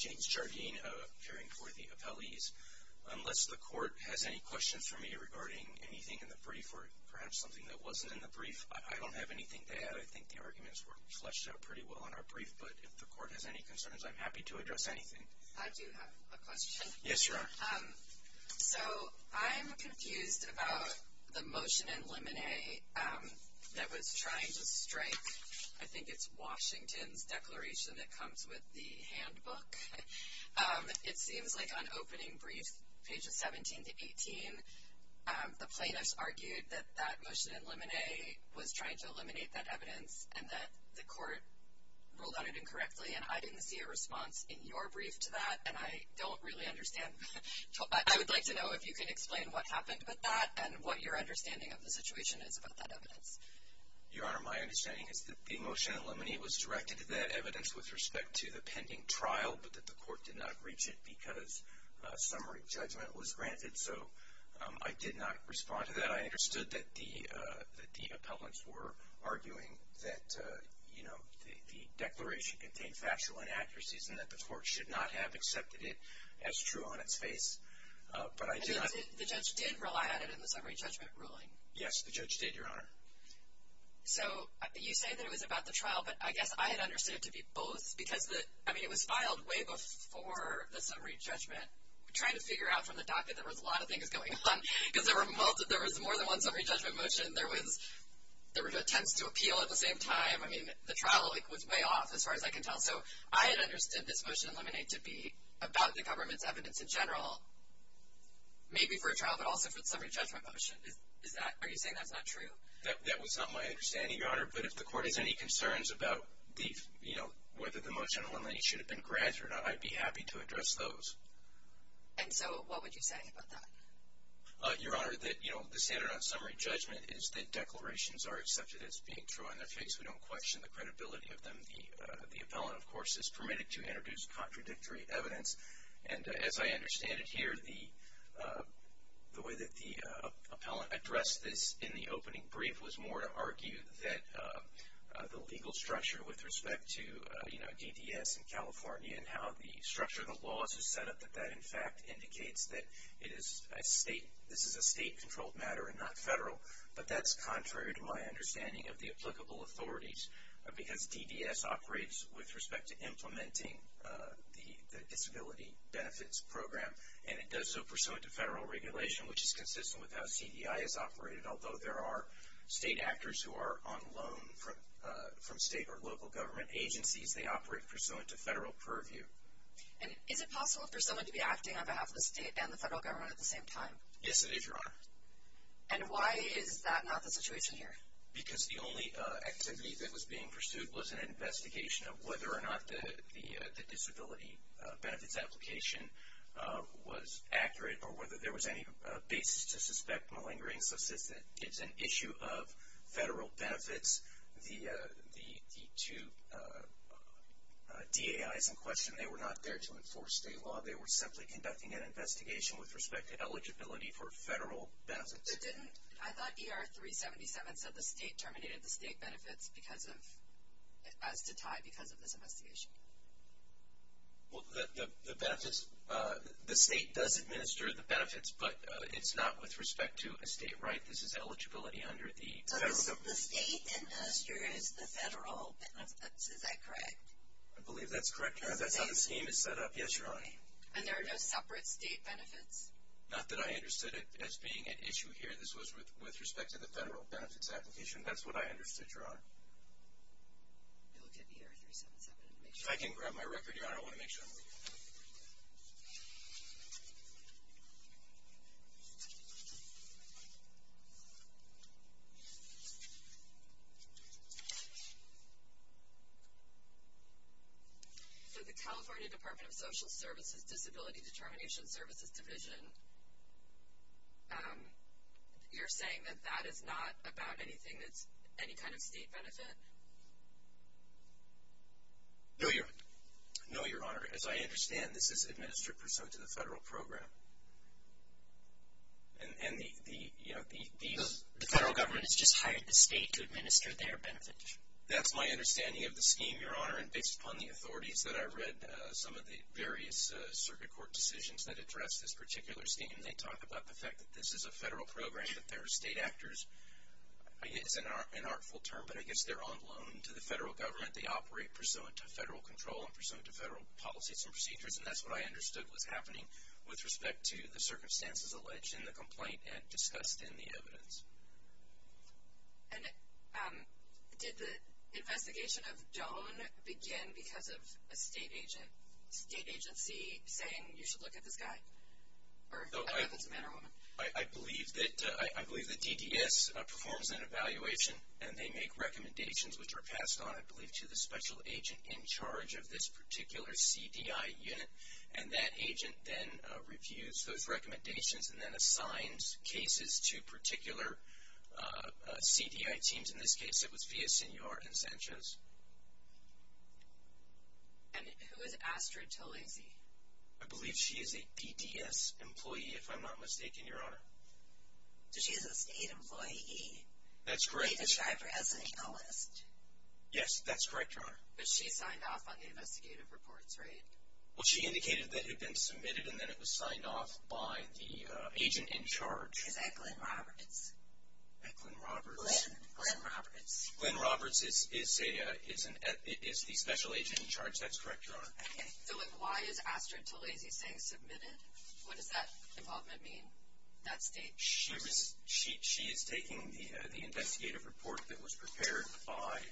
James Jardine appearing for the appellees. The court has any questions for me regarding anything in the brief or perhaps something that wasn't in the brief. I don't have anything to add. I think the arguments were fleshed out pretty well on our brief, but if the court has any concerns, I'm happy to address anything. I do have a question. Yes, you are. So, I'm confused about the motion in limine that was trying to strike, I think it's Washington's declaration that comes with the handbook. It seems like on opening brief, pages 17 to 18, the plaintiffs argued that that motion in limine was trying to eliminate that evidence and that the court ruled on it incorrectly and I didn't see a response in your brief to that and I don't really understand. I would like to know if you can explain what happened with that and what your understanding of the situation is about that evidence. Your Honor, my understanding is that the motion in limine was directed to that evidence with respect to the pending trial, but that the court did not reach it because summary judgment was granted, so I did not respond to that. I understood that the appellants were arguing that, you know, the declaration contained factual inaccuracies and that the court should not have accepted it as true on its face, but I did not. The judge did rely on it in the summary judgment ruling. Yes, the judge did, Your Honor. So, you say that it was about the trial, but I guess I had understood it to be both because, I mean, it was filed way before the summary judgment. I'm trying to figure out from the docket that there was a lot of things going on because there was more than one summary judgment motion. There were attempts to appeal at the same time. I mean, the trial was way off as far as I can tell, so I had understood this motion in limine to be about the government's evidence in general, maybe for a trial, but also for the summary judgment motion. Are you saying that's not true? That was not my understanding, Your Honor, but if the court has any concerns about, you know, whether the motion in limine should have been granted or not, I'd be happy to address those. And so what would you say about that? Your Honor, that, you know, the standard on summary judgment is that declarations are accepted as being true on their face. We don't question the credibility of them. The appellant, of course, is permitted to introduce contradictory evidence, and as I understand it here, the way that the appellant addressed this in the opening brief was more to argue that the legal structure with respect to, you know, DDS in California and how the structure of the laws is set up, that that, in fact, indicates that it is a state, this is a state-controlled matter and not federal, but that's contrary to my understanding of the applicable authorities because DDS operates with respect to implementing the disability benefits program, and it does so pursuant to federal regulation, which is consistent with how CDI is operated, although there are state actors who are on loan from state or local government agencies. They operate pursuant to federal purview. And is it possible for someone to be acting on behalf of the state and the federal government at the same time? Yes, it is, Your Honor. And why is that not the situation here? Because the only activity that was being pursued was an investigation of whether or not the disability benefits application was accurate or whether there was any basis to suspect malingering, such as that it's an issue of federal benefits. The two DAIs in question, they were not there to enforce state law. They were simply conducting an investigation with respect to eligibility for federal benefits. I thought ER 377 said the state terminated the state benefits as to tie because of this investigation. Well, the benefits, the state does administer the benefits, but it's not with respect to a state right. This is eligibility under the federal. So the state administers the federal benefits, is that correct? I believe that's correct, Your Honor. That's how the scheme is set up. Yes, Your Honor. And there are no separate state benefits? Not that I understood it as being an issue here. This was with respect to the federal benefits application. That's what I understood, Your Honor. We'll look at ER 377 and make sure. If I can grab my record, Your Honor. I want to make sure. So the California Department of Social Services Disability Determination Services Division, you're saying that that is not about anything that's any kind of state benefit? No, Your Honor. No, Your Honor. As I understand, this is administered pursuant to the federal program. And the federal government has just hired the state to administer their benefits. That's my understanding of the scheme, Your Honor. And based upon the authorities that I read, some of the various circuit court decisions that address this particular scheme, they talk about the fact that this is a federal program, that there are state actors. It's an artful term, but I guess they're on loan to the federal government. They operate pursuant to federal control and pursuant to federal policies and procedures. And that's what I understood was happening with respect to the circumstances alleged in the complaint and discussed in the evidence. And did the investigation of Joan begin because of a state agency saying you should look at this guy? Or a man or woman? I believe that DDS performs an evaluation, and they make recommendations which are passed on, I believe, to the special agent in charge of this particular CDI unit. And that agent then reviews those recommendations and then assigns cases to particular CDI teams. In this case, it was Villasenor and Sanchez. And who is Astrid Talese? I believe she is a DDS employee, if I'm not mistaken, Your Honor. So she's a state employee. That's correct. And did they describe her as a legalist? Yes, that's correct, Your Honor. But she signed off on the investigative reports, right? Well, she indicated that it had been submitted and then it was signed off by the agent in charge. Is that Glenn Roberts? Glenn Roberts. Glenn Roberts. Glenn Roberts is the special agent in charge. That's correct, Your Honor. Okay. So then why is Astrid Talese saying submitted? What does that involvement mean, that state? She is taking the investigative report that was prepared by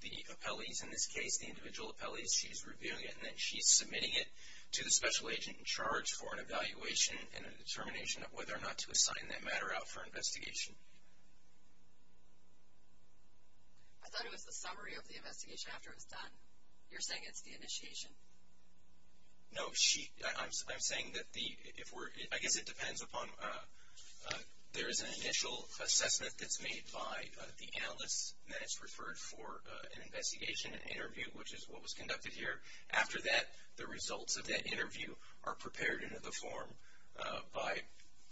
the appellees in this case, the individual appellees, she's reviewing it, and then she's submitting it to the special agent in charge for an evaluation and a determination of whether or not to assign that matter out for investigation. I thought it was the summary of the investigation after it was done. You're saying it's the initiation. No, I'm saying that if we're – I guess it depends upon – there is an initial assessment that's made by the analyst and then it's referred for an investigation and interview, which is what was conducted here. After that, the results of that interview are prepared into the form by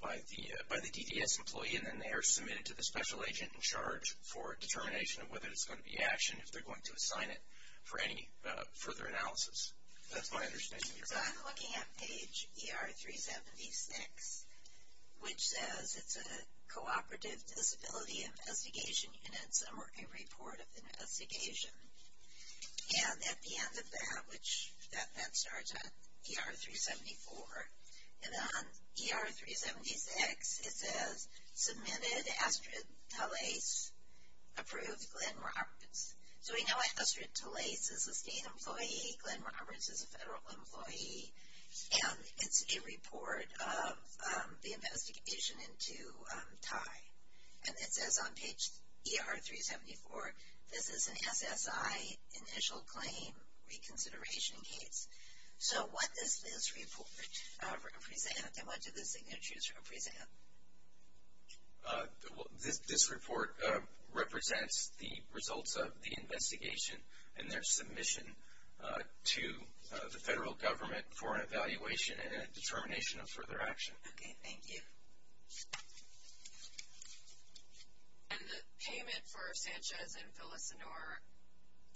the DDS employee, and then they are submitted to the special agent in charge for a determination of whether it's going to be actioned, and if they're going to assign it for any further analysis. That's my understanding of your question. So I'm looking at page ER 376, which says it's a cooperative disability investigation unit, summary report of the investigation. And at the end of that, which that then starts on ER 374, And on ER 376, it says submitted Astrid Talais, approved Glenn Roberts. So we know Astrid Talais is a state employee. Glenn Roberts is a federal employee. And it's a report of the investigation into Ty. And it says on page ER 374, this is an SSI initial claim reconsideration case. So what does this report represent, and what do the signatures represent? This report represents the results of the investigation and their submission to the federal government for an evaluation and a determination of further action. Okay, thank you. And the payment for Sanchez and Villasenor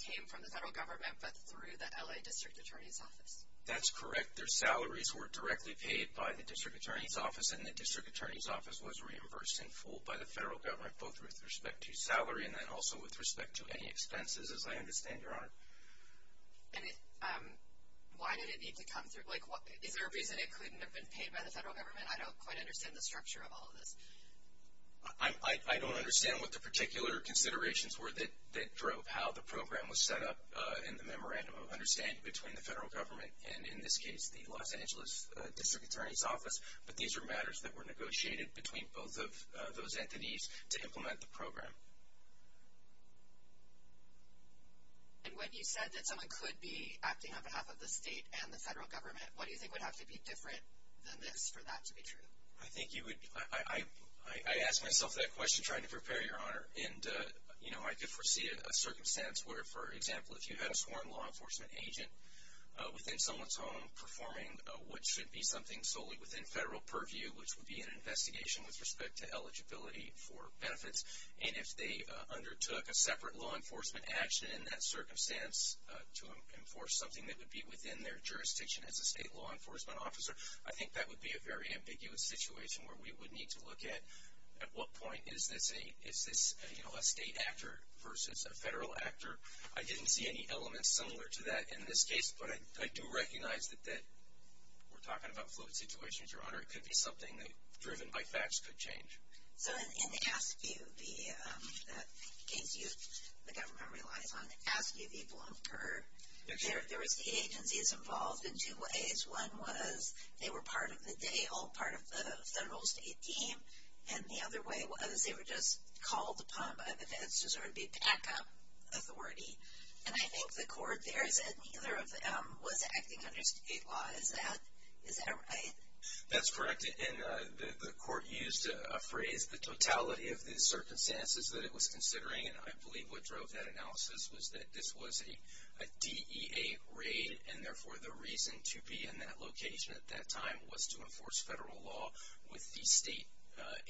came from the federal government but through the L.A. District Attorney's Office. That's correct. Their salaries were directly paid by the District Attorney's Office, and the District Attorney's Office was reimbursed in full by the federal government, both with respect to salary and then also with respect to any expenses, as I understand, Your Honor. And why did it need to come through? Like, is there a reason it couldn't have been paid by the federal government? I don't quite understand the structure of all of this. I don't understand what the particular considerations were that drove how the program was set up in the memorandum of understanding between the federal government and, in this case, the Los Angeles District Attorney's Office, but these are matters that were negotiated between both of those entities to implement the program. And when you said that someone could be acting on behalf of the state and the federal government, what do you think would have to be different than this for that to be true? I think you would be – I asked myself that question trying to prepare you, Your Honor, and I could foresee a circumstance where, for example, if you had a sworn law enforcement agent within someone's home performing what should be something solely within federal purview, which would be an investigation with respect to eligibility for benefits, and if they undertook a separate law enforcement action in that circumstance to enforce something that would be within their jurisdiction as a state law enforcement officer, I think that would be a very ambiguous situation where we would need to look at, at what point is this a state actor versus a federal actor? I didn't see any elements similar to that in this case, but I do recognize that we're talking about fluid situations, Your Honor. It could be something that, driven by facts, could change. So in the ASPU, the case the government relies on, the ASPU people incurred. There was the agencies involved in two ways. One was they were part of the day, all part of the federal state team, and the other way was they were just called upon by the feds to sort of be backup authority. And I think the court there said neither of them was acting under state law. Is that right? That's correct, and the court used a phrase, the totality of the circumstances that it was considering, and I believe what drove that analysis was that this was a DEA raid, and therefore the reason to be in that location at that time was to enforce federal law with the state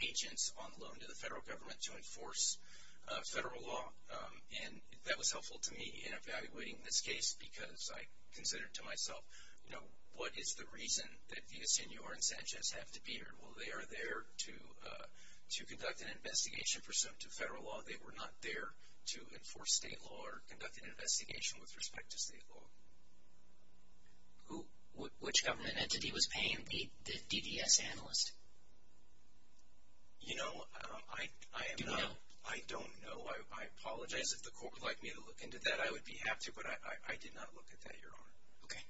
agents on loan to the federal government to enforce federal law. And that was helpful to me in evaluating this case because I considered to myself, you know, what is the reason that Villasenor and Sanchez have to be here? Well, they are there to conduct an investigation pursuant to federal law. They were not there to enforce state law or conduct an investigation with respect to state law. Which government entity was paying the DDS analyst? You know, I am not. I don't know. I apologize if the court would like me to look into that. I would be happy to, but I did not look at that, Your Honor. Okay.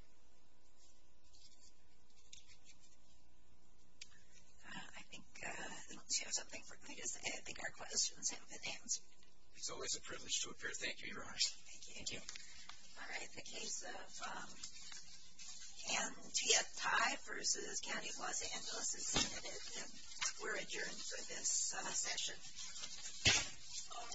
I think our questions have been answered. It's always a privilege to appear. Thank you, Your Honor. Thank you. All right. The case of Antietam versus County of Los Angeles is submitted, and we're adjourned for this session. All rise.